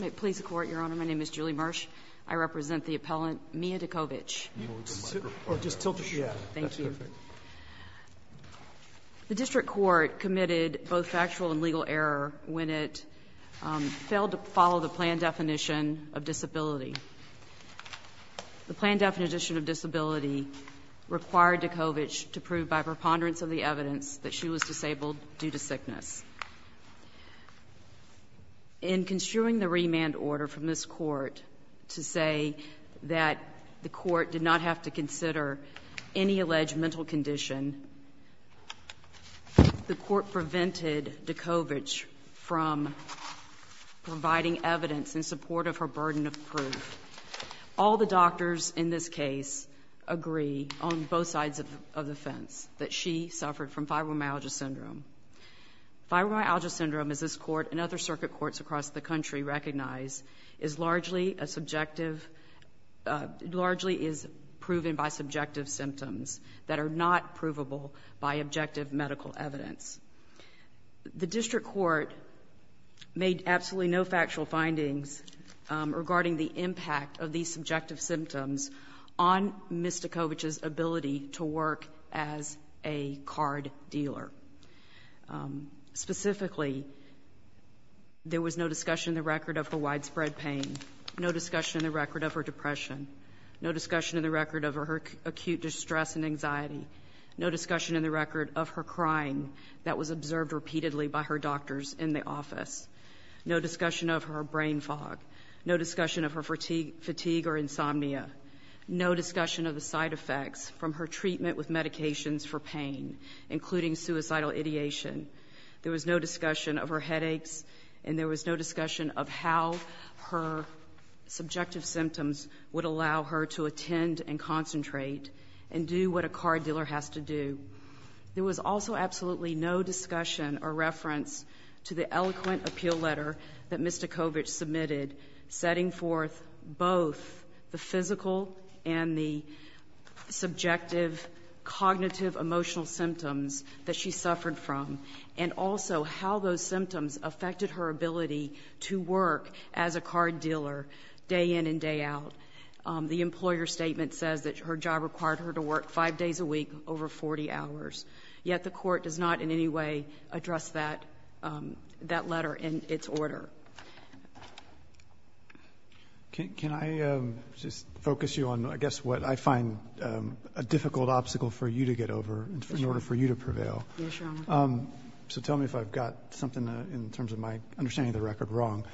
May it please the Court, Your Honor, my name is Julie Mersch. I represent the appellant Mia Decovich. The District Court committed both factual and legal error when it failed to follow the plan definition of disability. The plan definition of disability required Decovich to prove by preponderance of the evidence that she was disabled due to sickness. In construing the remand order from this court to say that the court did not have to consider any alleged mental condition, the court prevented Decovich from providing evidence in support of her burden of proof. All the doctors in this case agree on both sides of the fence that she suffered from fibromyalgia syndrome. Fibromyalgia syndrome, as this court and other circuit courts across the country recognize, is largely a subjective, largely is proven by subjective symptoms that are not provable by objective medical evidence. The District Court made absolutely no factual findings regarding the impact of these subjective symptoms on Ms. Decovich's ability to work as a card dealer. Specifically, there was no discussion in the record of her widespread pain, no discussion in the record of her depression, no discussion in the record of her acute distress and anxiety, no discussion in the record of her crying that was observed repeatedly by her doctors in the office, no discussion of her brain fog, no discussion of her fatigue or insomnia, no discussion of the side effects from her treatment with medications for pain, including suicidal ideation. There was no discussion of her headaches and there was no discussion of how her subjective symptoms would allow her to attend and concentrate and do what a card dealer has to do. There was also absolutely no discussion or reference to the eloquent appeal letter that Ms. Decovich submitted, setting forth both the physical and the subjective cognitive emotional symptoms that she suffered from and also how those symptoms affected her ability to work as a card dealer day in and day out. The employer statement says that her job required her to work five days a week over 40 hours. Yet the court does not in any way address that, um, that order. Can I just focus you on, I guess, what I find a difficult obstacle for you to get over in order for you to prevail? So tell me if I've got something in terms of my understanding of the record wrong.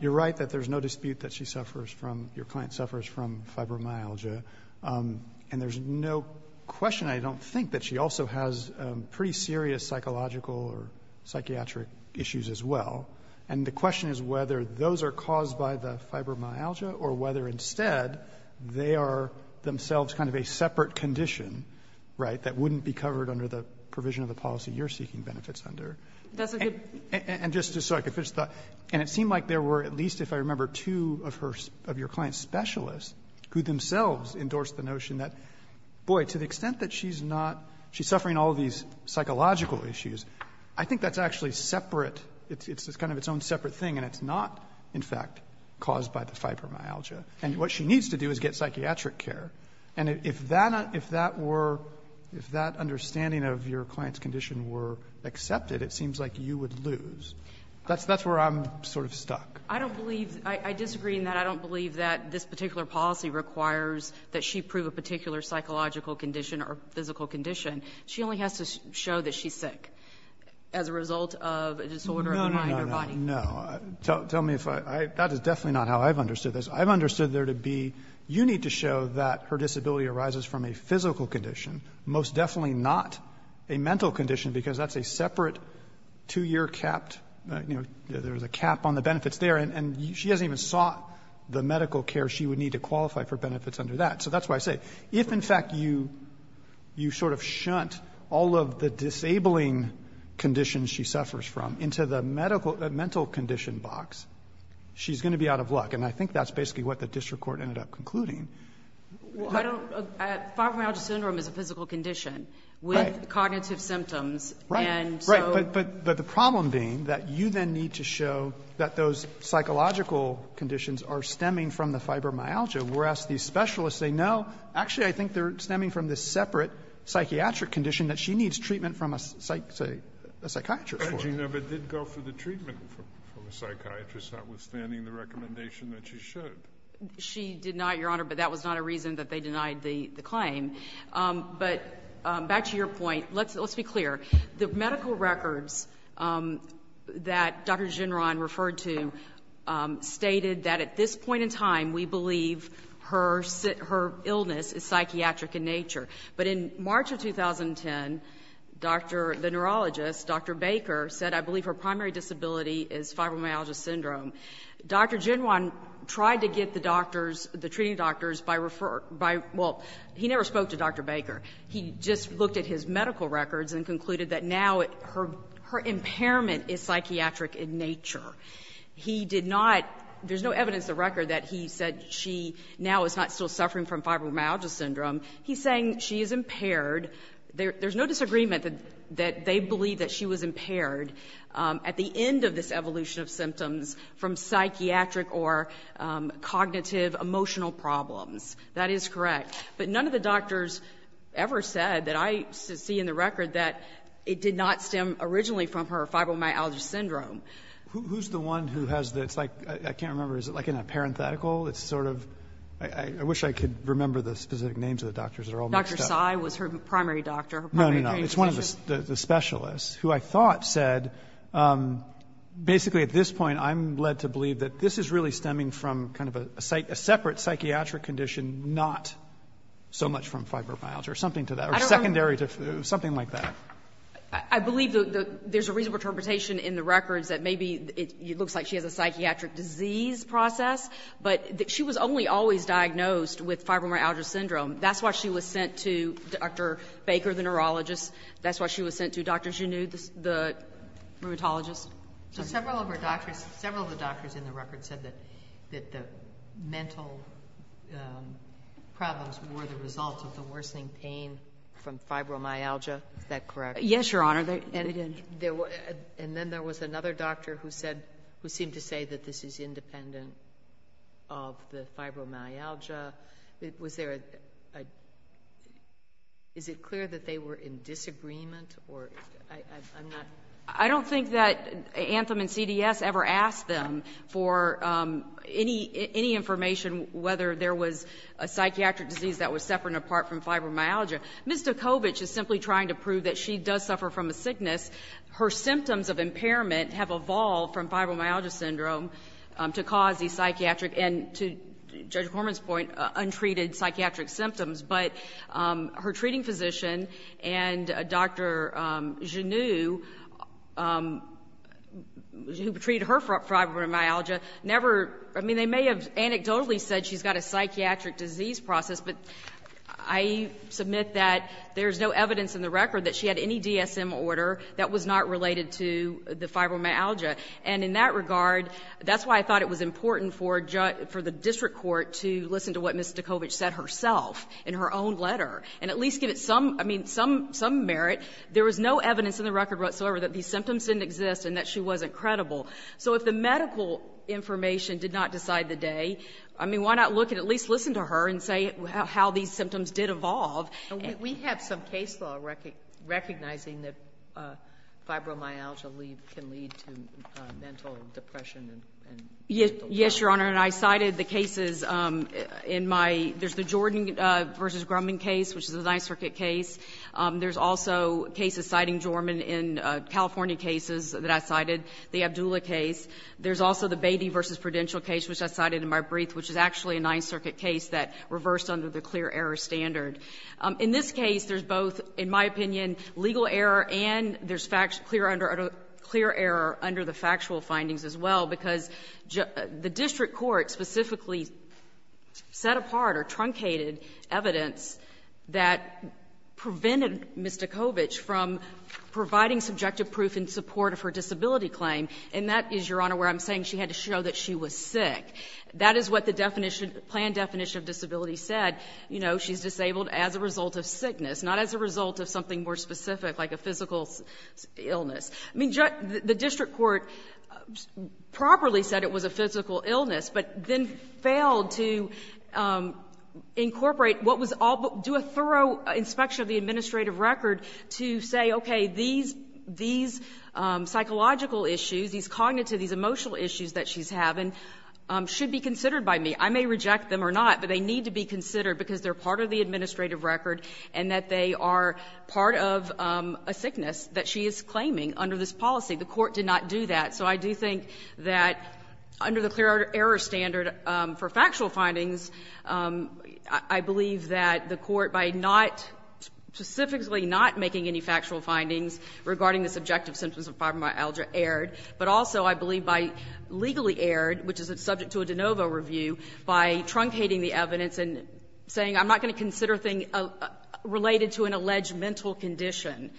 You're right that there's no dispute that she suffers from, your client suffers from fibromyalgia. Um, and there's no question, I don't think, that she also has pretty serious psychological or psychiatric issues as well. And the question is whether those are caused by the fibromyalgia or whether instead they are themselves kind of a separate condition, right, that wouldn't be covered under the provision of the policy you're seeking benefits under. And just so I could finish the thought, and it seemed like there were at least, if I remember, two of her, of your client's specialists who themselves endorsed the notion that, boy, to the extent that she's not, she's suffering all these psychological issues, I think that's actually separate. It's kind of its own separate thing, and it's not, in fact, caused by the fibromyalgia. And what she needs to do is get psychiatric care. And if that were, if that understanding of your client's condition were accepted, it seems like you would lose. That's where I'm sort of stuck. I don't believe, I disagree in that. I don't believe that this particular policy requires that she prove a particular psychological condition or physical condition. She only has to show that she's sick as a result of a disorder of the mind or body. No, no, no, no. Tell me if I, that is definitely not how I've understood this. I've understood there to be, you need to show that her disability arises from a physical condition, most definitely not a mental condition, because that's a separate two-year capped, you know, there's a cap on the benefits there. And she hasn't even sought the medical care she would need to qualify for benefits under that. So that's why I say, if, in fact, you sort of shunt all of the disabling conditions she suffers from into the medical, mental condition box, she's going to be out of luck. And I think that's basically what the district court ended up concluding. I don't, fibromyalgia syndrome is a physical condition with cognitive symptoms. And so Right, right. But the problem being that you then need to show that those psychological conditions are stemming from the fibromyalgia, whereas these specialists say, no, actually I think they're stemming from this separate psychiatric condition that she needs treatment from a psychiatrist for. But she never did go for the treatment from a psychiatrist, notwithstanding the recommendation that she should. She did not, Your Honor, but that was not a reason that they denied the claim. But back to your point, let's be clear. The medical records that Dr. Ginron referred to stated that at this point in time we believe her illness is psychiatric in nature. But in March of 2010, the neurologist, Dr. Baker, said, I believe her primary disability is fibromyalgia syndrome. Dr. Ginron tried to get the doctors, the treating doctors, by referring by, well, he never spoke to Dr. Baker. He just looked at his medical records and concluded that now her impairment is psychiatric in nature. He did not, there's no evidence in the record that he said she now is not still suffering from fibromyalgia syndrome. He's saying she is impaired. There's no disagreement that they believe that she was impaired. At the end of this evolution of symptoms from psychiatric or cognitive emotional problems, that is correct. But none of the doctors ever said, that I see in the record, that it did not stem originally from her fibromyalgia syndrome. Who's the one who has the, it's like, I can't remember, is it like in a parenthetical? It's sort of, I wish I could remember the specific names of the doctors that are all mixed up. Dr. Sy was her primary doctor, her primary care physician. It's one of the specialists, who I thought said, basically at this point, I'm led to believe that this is really stemming from kind of a separate psychiatric condition, not so much from fibromyalgia or something to that, or secondary to, something like that. I believe there's a reasonable interpretation in the records that maybe it looks like she has a psychiatric disease process, but she was only always diagnosed with fibromyalgia syndrome. That's why she was sent to Dr. Baker, the neurologist. That's why she was sent to doctors who knew the rheumatologist. So several of her doctors, several of the doctors in the record said that the mental problems were the result of the worsening pain from fibromyalgia. Is that correct? Yes, Your Honor. And then there was another doctor who said, who seemed to say that this is independent of the fibromyalgia. Was there a, is it clear that they were in disagreement, or I'm not? I don't think that Anthem and CDS ever asked them for any information whether there was a psychiatric disease that was separate and apart from fibromyalgia. Ms. Dukovich is simply trying to prove that she does suffer from a sickness. Her symptoms of impairment have evolved from fibromyalgia syndrome to cause the psychiatric and to Judge Horman's point, untreated psychiatric symptoms. But her treating physician and Dr. Genoux, who treated her fibromyalgia, never, I mean, they may have anecdotally said she's got a psychiatric disease process, but I submit that there's no evidence in the record that she had any DSM order that was not related to the fibromyalgia. And in that regard, that's why I thought it was important for the district court to listen to what Ms. Dukovich said herself in her own letter, and at least give it some, I mean, some merit. There was no evidence in the record whatsoever that these symptoms didn't exist and that she wasn't credible. So if the medical information did not decide the day, I mean, why not look and at least listen to her and say how these symptoms did evolve. And we have some case law recognizing that fibromyalgia can lead to mental depression and mental illness. Yes, Your Honor. And I cited the cases in my, there's the Jordan v. Grumman case, which is a Ninth Circuit case. There's also cases citing Jorman in California cases that I cited, the Abdulla case. There's also the Beatty v. Prudential case, which I cited in my brief, which is actually a Ninth Circuit case that reversed under the clear error standard. In this case, there's both, in my opinion, legal error and there's clear error under the factual findings as well, because the district court specifically set apart or truncated evidence that prevented Ms. Dukovich from providing subjective proof in support of her disability claim. And that is, Your Honor, where I'm saying she had to show that she was sick. That is what the definition, planned definition of disability said. You know, she's disabled as a result of sickness, not as a result of something more specific like a physical illness. I mean, the district court properly said it was a physical illness, but then failed to incorporate what was all, do a thorough inspection of the administrative record to say, okay, these psychological issues, these cognitive, these emotional issues that she's having should be considered by me. I may reject them or not, but they need to be considered because they're part of the administrative record and that they are part of a sickness that she is claiming under this policy. The court did not do that. So I do think that under the clear error standard for factual findings, I believe that the court, by not, specifically not making any factual findings regarding the subjective symptoms of fibromyalgia, erred, but also, I believe, by legally erred, which is subject to a de novo review, by truncating the evidence and saying I'm not going to consider a thing related to an alleged mental condition.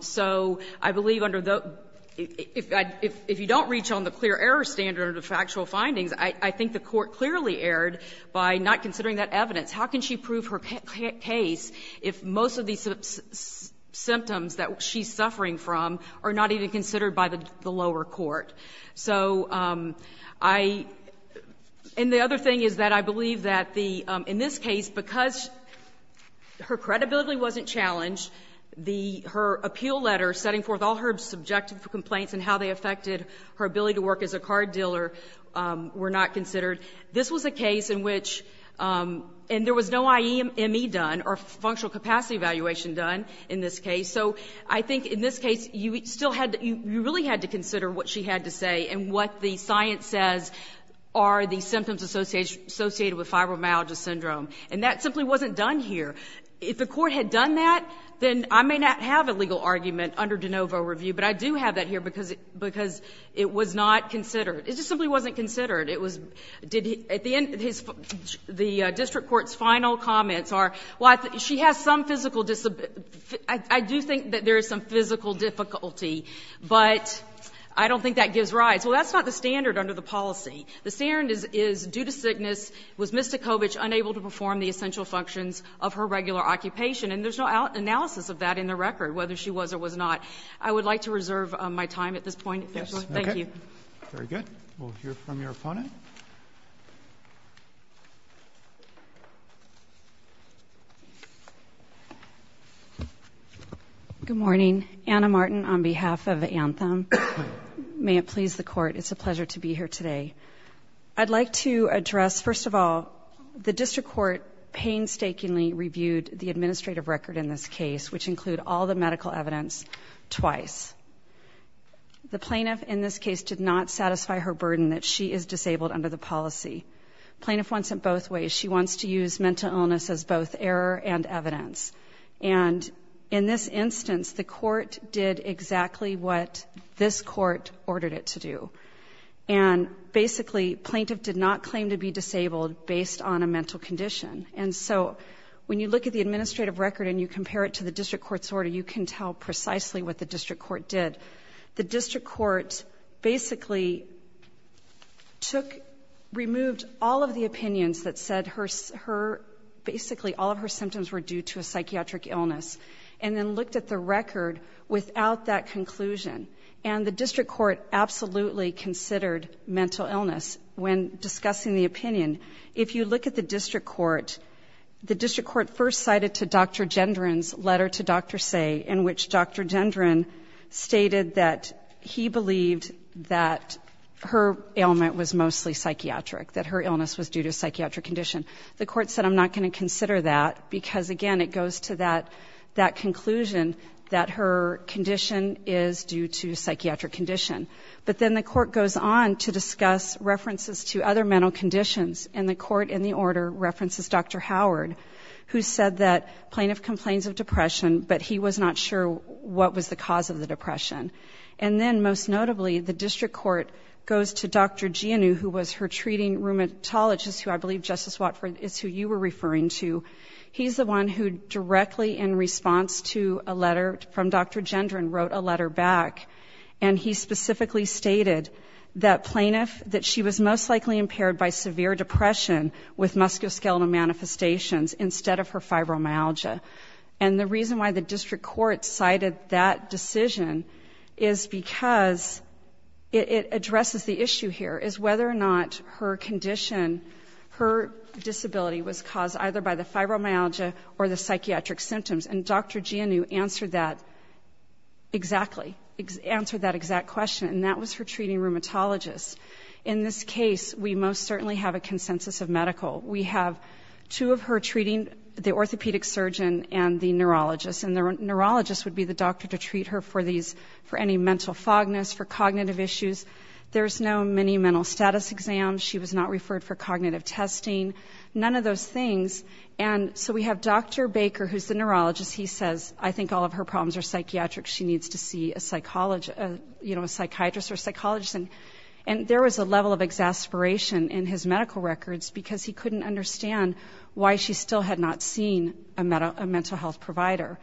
So I believe under the — if you don't reach on the clear error standard of factual findings, I think the court clearly erred by not considering that evidence. How can she prove her case if most of these symptoms that she's suffering from are not even considered by the lower court? So I — and the other thing is that I believe that the — in this case, because her credibility wasn't challenged, the — her appeal letter setting forth all her subjective complaints and how they affected her ability to work as a card dealer were not considered. This was a case in which — and there was no IEME done or functional capacity evaluation done in this case. So I think in this case, you still had to — you really had to consider what she had to say and what the science says are the symptoms associated with fibromyalgia syndrome. And that simply wasn't done here. If the court had done that, then I may not have a legal argument under de novo review, but I do have that here because it was not considered. It just simply wasn't considered. It was — did — at the end, the district court's final comments are, well, she has some physical — I do think that there is some physical difficulty, but I don't think that gives rise. Well, that's not the standard under the policy. The standard is, due to sickness, was Ms. Tachovich unable to perform the essential functions of her regular occupation? And there's no analysis of that in the record, whether she was or was not. I would like to reserve my time at this point, if that's all right. Thank you. Roberts. Very good. We'll hear from your opponent. Good morning. Anna Martin on behalf of Anthem. May it please the Court, it's a pleasure to be here today. I'd like to address, first of all, the district court painstakingly reviewed the administrative record in this case, which include all the medical evidence, twice. The plaintiff in this case did not satisfy her burden that she is disabled under the policy. Plaintiff wants it both ways. She wants to use mental illness as both error and evidence. And in this instance, the court did exactly what this court ordered it to do. And basically, plaintiff did not claim to be disabled based on a mental condition. And so, when you look at the administrative record and you compare it to the district court did, the district court basically took, removed all of the opinions that said her, basically all of her symptoms were due to a psychiatric illness. And then looked at the record without that conclusion. And the district court absolutely considered mental illness when discussing the opinion. If you look at the district court, the district court first cited to Dr. Gendron stated that he believed that her ailment was mostly psychiatric, that her illness was due to psychiatric condition. The court said, I'm not going to consider that, because, again, it goes to that conclusion that her condition is due to psychiatric condition. But then the court goes on to discuss references to other mental conditions. And the court in the order references Dr. Howard, who said that plaintiff complains of depression, but he was not sure what was the cause of the depression. And then, most notably, the district court goes to Dr. Gianu, who was her treating rheumatologist, who I believe Justice Watford is who you were referring to. He's the one who directly in response to a letter from Dr. Gendron wrote a letter back. And he specifically stated that plaintiff, that she was most likely impaired by severe depression with musculoskeletal manifestations instead of her fibromyalgia. And the reason why the district court cited that decision is because it addresses the issue here, is whether or not her condition, her disability was caused either by the fibromyalgia or the psychiatric symptoms. And Dr. Gianu answered that exactly, answered that exact question. And that was her treating rheumatologist. In this case, we most certainly have a consensus of medical. We have two of her treating, the orthopedic surgeon and the neurologist. And the neurologist would be the doctor to treat her for any mental fogness, for cognitive issues. There's no mini mental status exam. She was not referred for cognitive testing. None of those things. And so we have Dr. Baker, who's the neurologist. He says, I think all of her problems are psychiatric. She needs to see a psychologist, a psychiatrist or a psychologist. And there was a level of exasperation in his medical records because he couldn't understand why she still had not seen a mental health provider.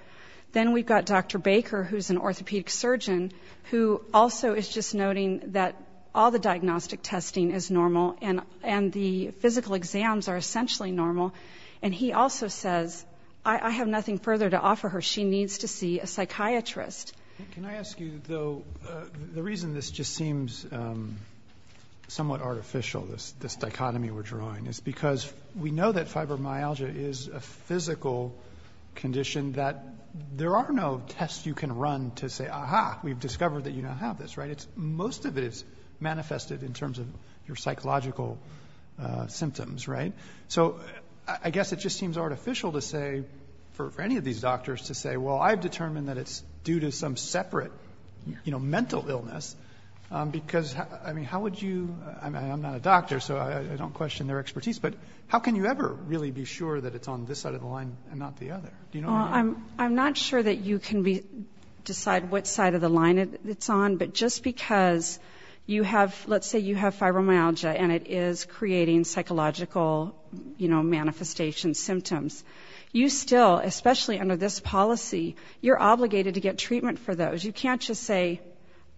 Then we've got Dr. Baker, who's an orthopedic surgeon, who also is just noting that all the diagnostic testing is normal and the physical exams are essentially normal. And he also says, I have nothing further to offer her. She needs to see a psychiatrist. Can I ask you, though, the reason this just seems somewhat artificial, this dichotomy we're drawing, is because we know that fibromyalgia is a physical condition that there are no tests you can run to say, aha, we've discovered that you don't have this, right? Most of it is manifested in terms of your psychological symptoms, right? So I guess it just seems artificial to say, for any of these doctors to say, well, I've determined that it's due to some separate mental illness. Because, I mean, how would you, I mean, I'm not a doctor, so I don't question their expertise, but how can you ever really be sure that it's on this side of the line and not the other? Do you know? I'm not sure that you can decide what side of the line it's on, but just because you have, let's say you have fibromyalgia and it is creating psychological manifestation symptoms. You still, especially under this policy, you're obligated to get treatment for those. You can't just say,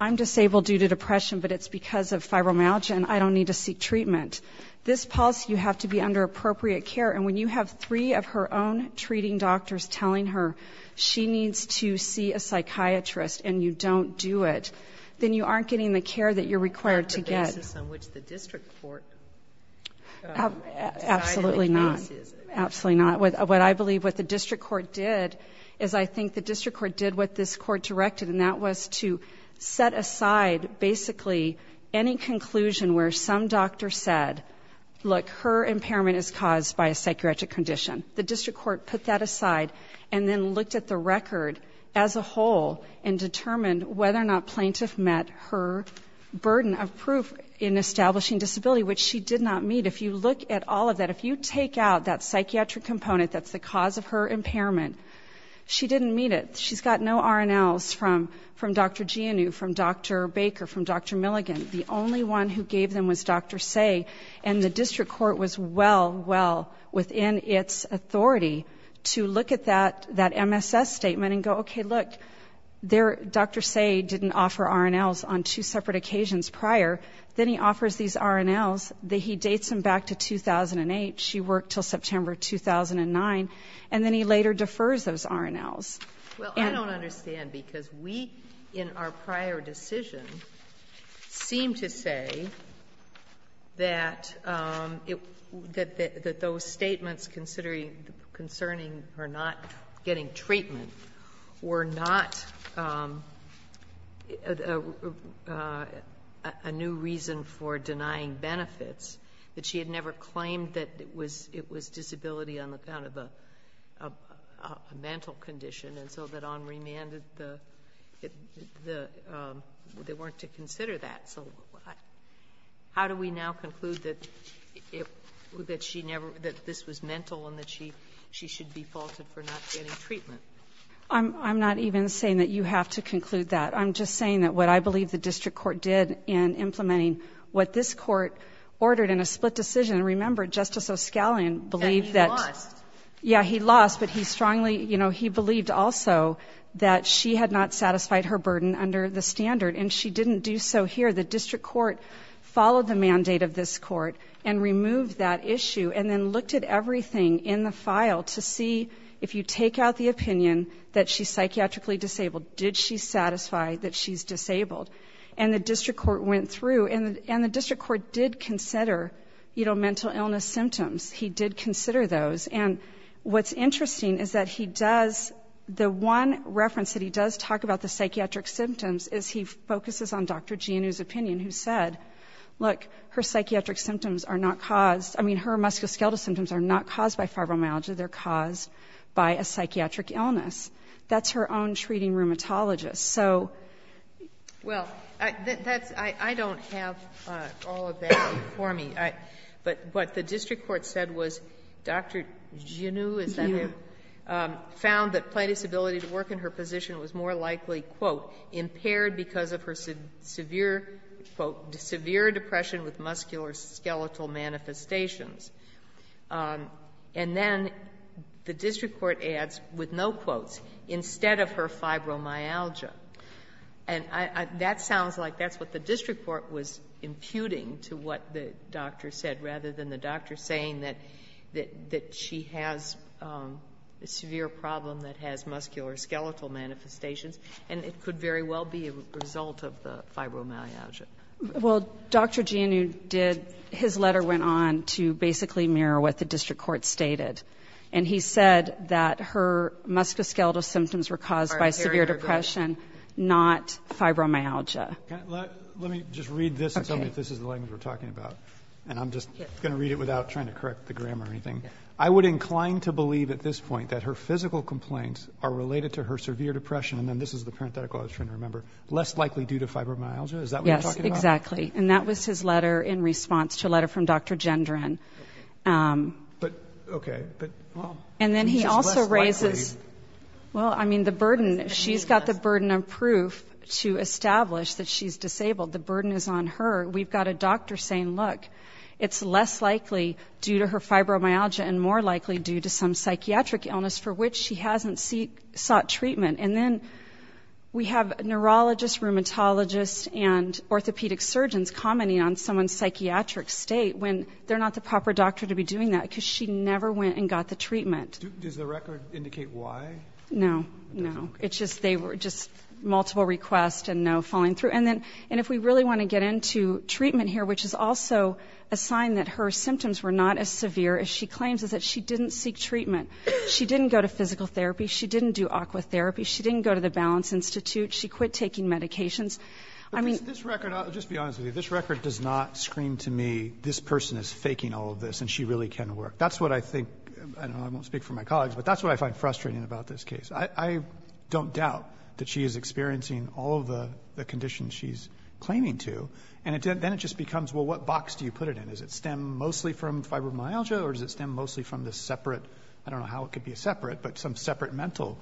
I'm disabled due to depression, but it's because of fibromyalgia and I don't need to seek treatment. This policy, you have to be under appropriate care. And when you have three of her own treating doctors telling her she needs to see a psychiatrist and you don't do it, then you aren't getting the care that you're required to get. Is this on which the district court? Absolutely not. Absolutely not. What I believe what the district court did is I think the district court did what this court directed and that was to set aside basically any conclusion where some doctor said, look, her impairment is caused by a psychiatric condition. The district court put that aside and then looked at the record as a whole and in establishing disability, which she did not meet. If you look at all of that, if you take out that psychiatric component that's the cause of her impairment, she didn't meet it. She's got no RNLs from Dr. Gianu, from Dr. Baker, from Dr. Milligan. The only one who gave them was Dr. Say, and the district court was well, well within its authority to look at that MSS statement and go, okay, look. Dr. Say didn't offer RNLs on two separate occasions prior. Then he offers these RNLs. He dates them back to 2008. She worked until September 2009. And then he later defers those RNLs. And the district court did not meet. Well, I don't understand because we in our prior decision seemed to say that it was statements concerning her not getting treatment were not a new reason for denying benefits, that she had never claimed that it was disability on the account of a mental condition. And so that on remand, they weren't to consider that. So how do we now conclude that this was mental and that she should be faulted for not getting treatment? I'm not even saying that you have to conclude that. I'm just saying that what I believe the district court did in implementing what this court ordered in a split decision. And remember, Justice O'Scallion believed that- And he lost. Yeah, he lost, but he strongly, he believed also that she had not satisfied her burden under the standard. And she didn't do so here. The district court followed the mandate of this court and removed that issue. And then looked at everything in the file to see if you take out the opinion that she's psychiatrically disabled. Did she satisfy that she's disabled? And the district court went through, and the district court did consider mental illness symptoms. He did consider those. And what's interesting is that he does, the one reference that he does talk about the psychiatric symptoms is he focuses on Dr. Giannou's opinion, who said, look, her psychiatric symptoms are not caused, I mean, her musculoskeletal symptoms are not caused by fibromyalgia, they're caused by a psychiatric illness. That's her own treating rheumatologist. So- Well, that's, I don't have all of that for me. But what the district court said was Dr. Giannou- Giannou. Found that plaintiff's ability to work in her position was more likely, quote, impaired because of her severe, quote, severe depression with musculoskeletal manifestations. And then the district court adds, with no quotes, instead of her fibromyalgia. And that sounds like that's what the district court was imputing to what the doctor said, rather than the doctor saying that she has a severe problem that has musculoskeletal manifestations. And it could very well be a result of the fibromyalgia. Well, Dr. Giannou did, his letter went on to basically mirror what the district court stated. And he said that her musculoskeletal symptoms were caused by severe depression, not fibromyalgia. Let me just read this and tell me if this is the language we're talking about. And I'm just going to read it without trying to correct the grammar or anything. I would incline to believe at this point that her physical complaints are related to her severe depression, and then this is the parenthetical I was trying to remember, less likely due to fibromyalgia. Is that what you're talking about? Yes, exactly. And that was his letter in response to a letter from Dr. Gendron. But, okay. But she's less likely. And then he also raises, well, I mean, the burden, she's got the burden of proof to establish that she's disabled. The burden is on her. We've got a doctor saying, look, it's less likely due to her fibromyalgia and more likely due to some psychiatric illness for which she hasn't sought treatment. And then we have neurologists, rheumatologists, and orthopedic surgeons commenting on someone's psychiatric state when they're not the proper doctor to be doing that because she never went and got the treatment. Does the record indicate why? No, no. It's just multiple requests and no falling through. And if we really want to get into treatment here, which is also a sign that her symptoms were not as severe as she claims is that she didn't seek treatment. She didn't go to physical therapy. She didn't do aqua therapy. She didn't go to the Balance Institute. She quit taking medications. I mean- Just to be honest with you, this record does not scream to me, this person is faking all of this and she really can work. That's what I think, and I won't speak for my colleagues, but that's what I find frustrating about this case. I don't doubt that she is experiencing all of the conditions she's claiming to, and then it just becomes, well, what box do you put it in? Does it stem mostly from fibromyalgia or does it stem mostly from this separate, I don't know how it could be separate, but some separate mental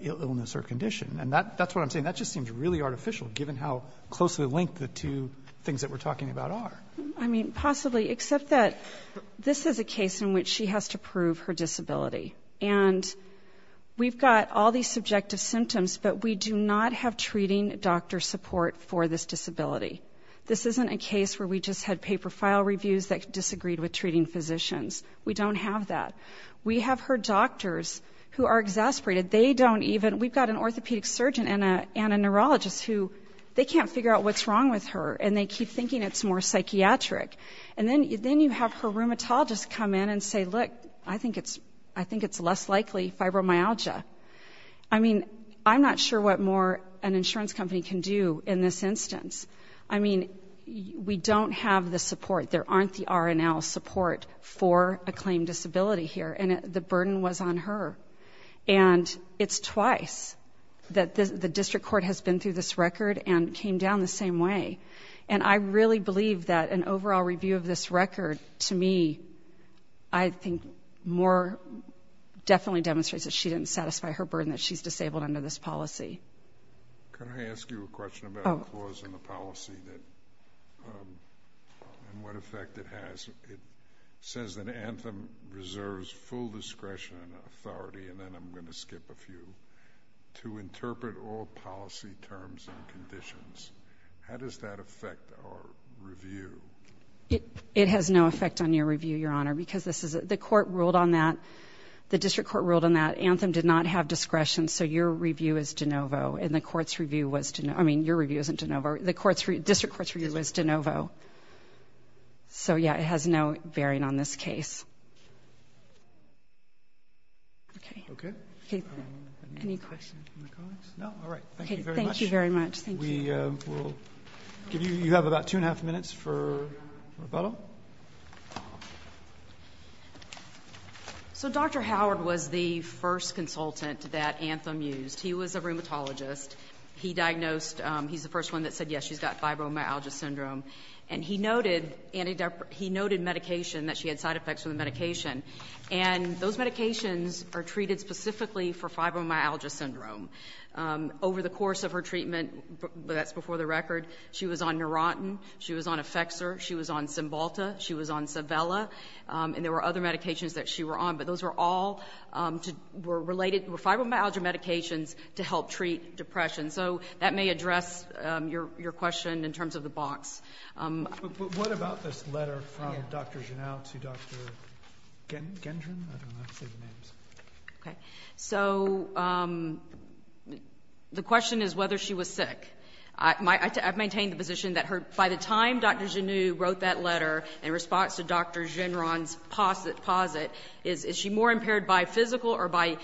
illness or condition? And that's what I'm saying. That just seems really artificial given how closely linked the two things that we're talking about are. I mean, possibly, except that this is a case in which she has to prove her disability. And we've got all these subjective symptoms, but we do not have treating doctor support for this disability. This isn't a case where we just had paper file reviews that disagreed with treating physicians. We don't have that. We have her doctors who are exasperated. They don't even- We've got an orthopedic surgeon and a neurologist who, they can't figure out what's wrong with her, and they keep thinking it's more psychiatric. And then you have her rheumatologist come in and say, look, I think it's less likely fibromyalgia. I mean, I'm not sure what more an insurance company can do in this instance. I mean, we don't have the support. There aren't the R and L support for a claimed disability here, and the burden was on her. And it's twice that the district court has been through this record and came down the same way. And I really believe that an overall review of this record, to me, I think more, definitely demonstrates that she didn't satisfy her burden that she's disabled under this policy. Can I ask you a question about the clause in the policy and what effect it has? It says that Anthem reserves full discretion and authority, and then I'm going to skip a few, to interpret all policy terms and conditions. How does that affect our review? It has no effect on your review, Your Honor, because the court ruled on that. The district court ruled on that. Anthem did not have discretion, so your review is de novo. And the court's review was, I mean, your review isn't de novo. The district court's review was de novo. So yeah, it has no bearing on this case. Okay. Okay. Any questions from the colleagues? No, all right. Thank you very much. Thank you very much. We will give you, you have about two and a half minutes for rebuttal. So Dr. Howard was the first consultant that Anthem used. He was a rheumatologist. He diagnosed, he's the first one that said, yes, she's got fibromyalgia syndrome. And he noted medication, that she had side effects from the medication. And those medications are treated specifically for fibromyalgia syndrome. Over the course of her treatment, that's before the record, she was on Neurontin. She was on Effexor. She was on Cymbalta. She was on Civella. And there were other medications that she were on. But those were all related, were fibromyalgia medications to help treat depression. So that may address your question in terms of the box. But what about this letter from Dr. Genow to Dr. Gendron? I don't know how to say the names. Okay. So the question is whether she was sick. I've maintained the position that by the time Dr. Genow wrote that letter in response to Dr. Gendron's posit, is she more impaired by physical or by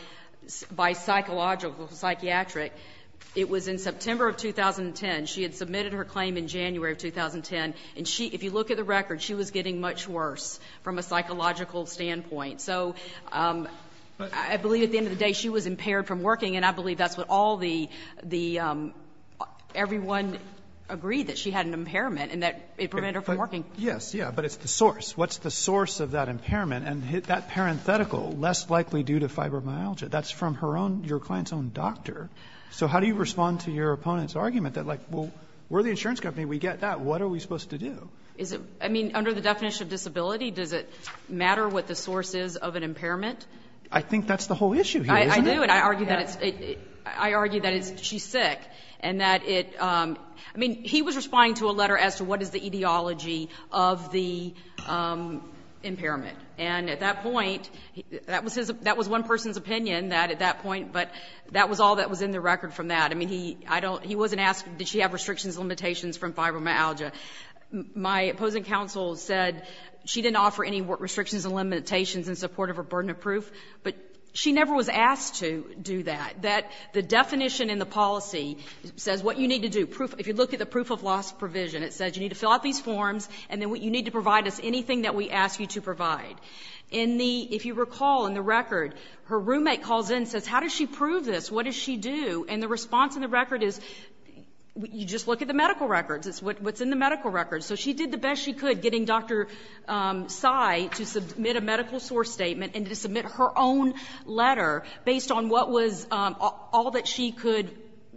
psychological, psychiatric? It was in September of 2010. She had submitted her claim in January of 2010. And if you look at the record, she was getting much worse from a psychological standpoint. So I believe at the end of the day, she was impaired from working. And I believe that's what all the — everyone agreed that she had an impairment and that it prevented her from working. Yes. Yeah. But it's the source. What's the source of that impairment? And that parenthetical, less likely due to fibromyalgia, that's from her own — your client's own doctor. So how do you respond to your opponent's argument that, like, well, we're the insurance company. We get that. What are we supposed to do? Is it — I mean, under the definition of disability, does it matter what the source is of an impairment? I think that's the whole issue here, isn't it? I do. And I argue that it's — I argue that it's — she's sick and that it — I mean, he was responding to a letter as to what is the etiology of the impairment. And at that point, that was his — that was one person's opinion, that at that point — but that was all that was in the record from that. I mean, he — I don't — he wasn't asking, did she have restrictions and limitations from fibromyalgia. My opposing counsel said she didn't offer any restrictions and limitations in support of her burden of proof, but she never was asked to do that. That — the definition in the policy says what you need to do. If you look at the proof of loss provision, it says you need to fill out these forms, and then you need to provide us anything that we ask you to provide. In the — if you recall, in the record, her roommate calls in and says, how does she prove this? What does she do? And the response in the record is, you just look at the medical records. It's what's in the medical records. So she did the best she could, getting Dr. Tsai to submit a medical source statement and to submit her own letter based on what was all that she could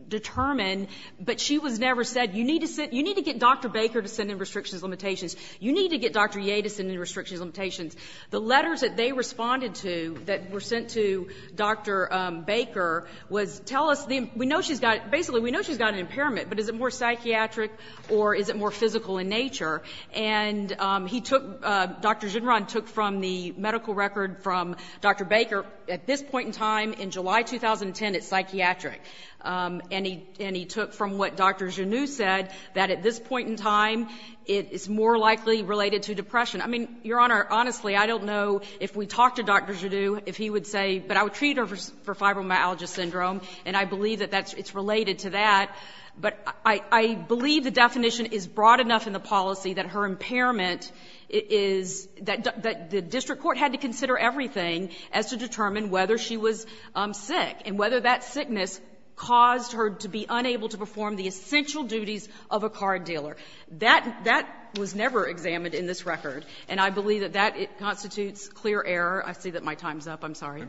determine. But she was never said, you need to get Dr. Baker to send in restrictions and limitations. You need to get Dr. Yeh to send in restrictions and limitations. The letters that they responded to that were sent to Dr. Baker was, tell us the — we know she's got — basically, we know she's got an impairment, but is it more psychiatric or is it more physical in nature? And he took — Dr. Ginron took from the medical record from Dr. Baker, at this point in time, in July 2010, it's psychiatric. And he took from what Dr. Genoux said, that at this point in time, it's more likely related to depression. I mean, Your Honor, honestly, I don't know if we talked to Dr. Genoux if he would say — but I would treat her for fibromyalgia syndrome, and I believe that that's — it's related to that. But I believe the definition is broad enough in the policy that her impairment is — that the district court had to consider everything as to determine whether she was sick, and whether that sickness caused her to be unable to perform the essential duties of a card dealer. That — that was never examined in this record. And I believe that that constitutes clear error. I see that my time's up. I'm sorry.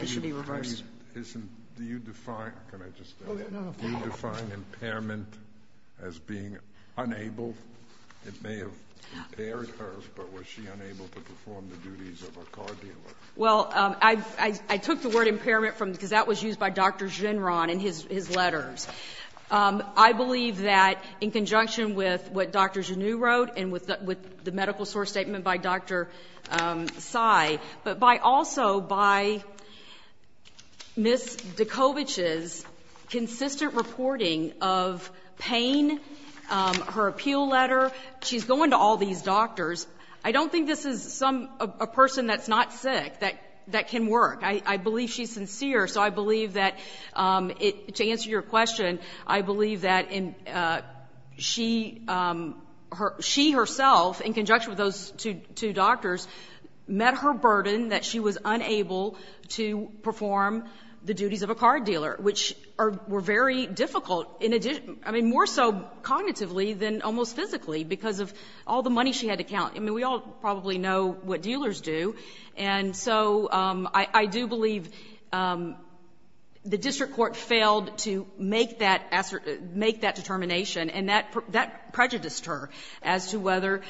It should be reversed. Do you define — can I just — do you define impairment as being unable? It may have impaired her, but was she unable to perform the duties of a card dealer? Well, I took the word impairment from — because that was used by Dr. Ginron in his letters. I believe that in conjunction with what Dr. Genoux wrote, and with the medical source statement by Dr. Tsai, but by — also by Ms. Dikovich's consistent reporting of pain, her appeal letter — she's going to all these doctors. I don't think this is some — a person that's not sick that — that can work. I believe she's sincere. So I believe that it — to answer your question, I believe that in — she — she herself, in conjunction with those two doctors, met her burden that she was unable to perform the duties of a card dealer, which are — were very difficult in addition — I mean, more so cognitively than almost physically because of all the money she had to count. I mean, we all probably know what dealers do. And so I — I do believe the district court failed to make that — make that determination. And that — that prejudiced her as to whether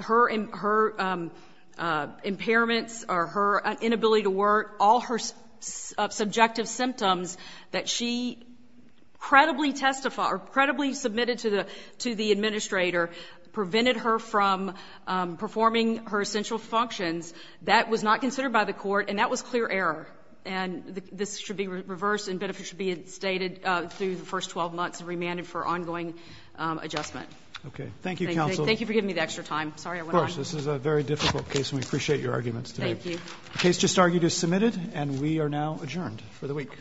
her impairments or her inability to work, all her subjective symptoms that she credibly testified — or credibly submitted to the — to the administrator prevented her from performing her essential functions. That was not considered by the court, and that was clear error. And this should be reversed, and benefits should be instated through the first 12 months remanded for ongoing adjustment. Okay. Thank you, counsel. Thank you for giving me the extra time. Sorry I went on. Of course. This is a very difficult case, and we appreciate your arguments today. Thank you. The case just argued is submitted, and we are now adjourned for the week.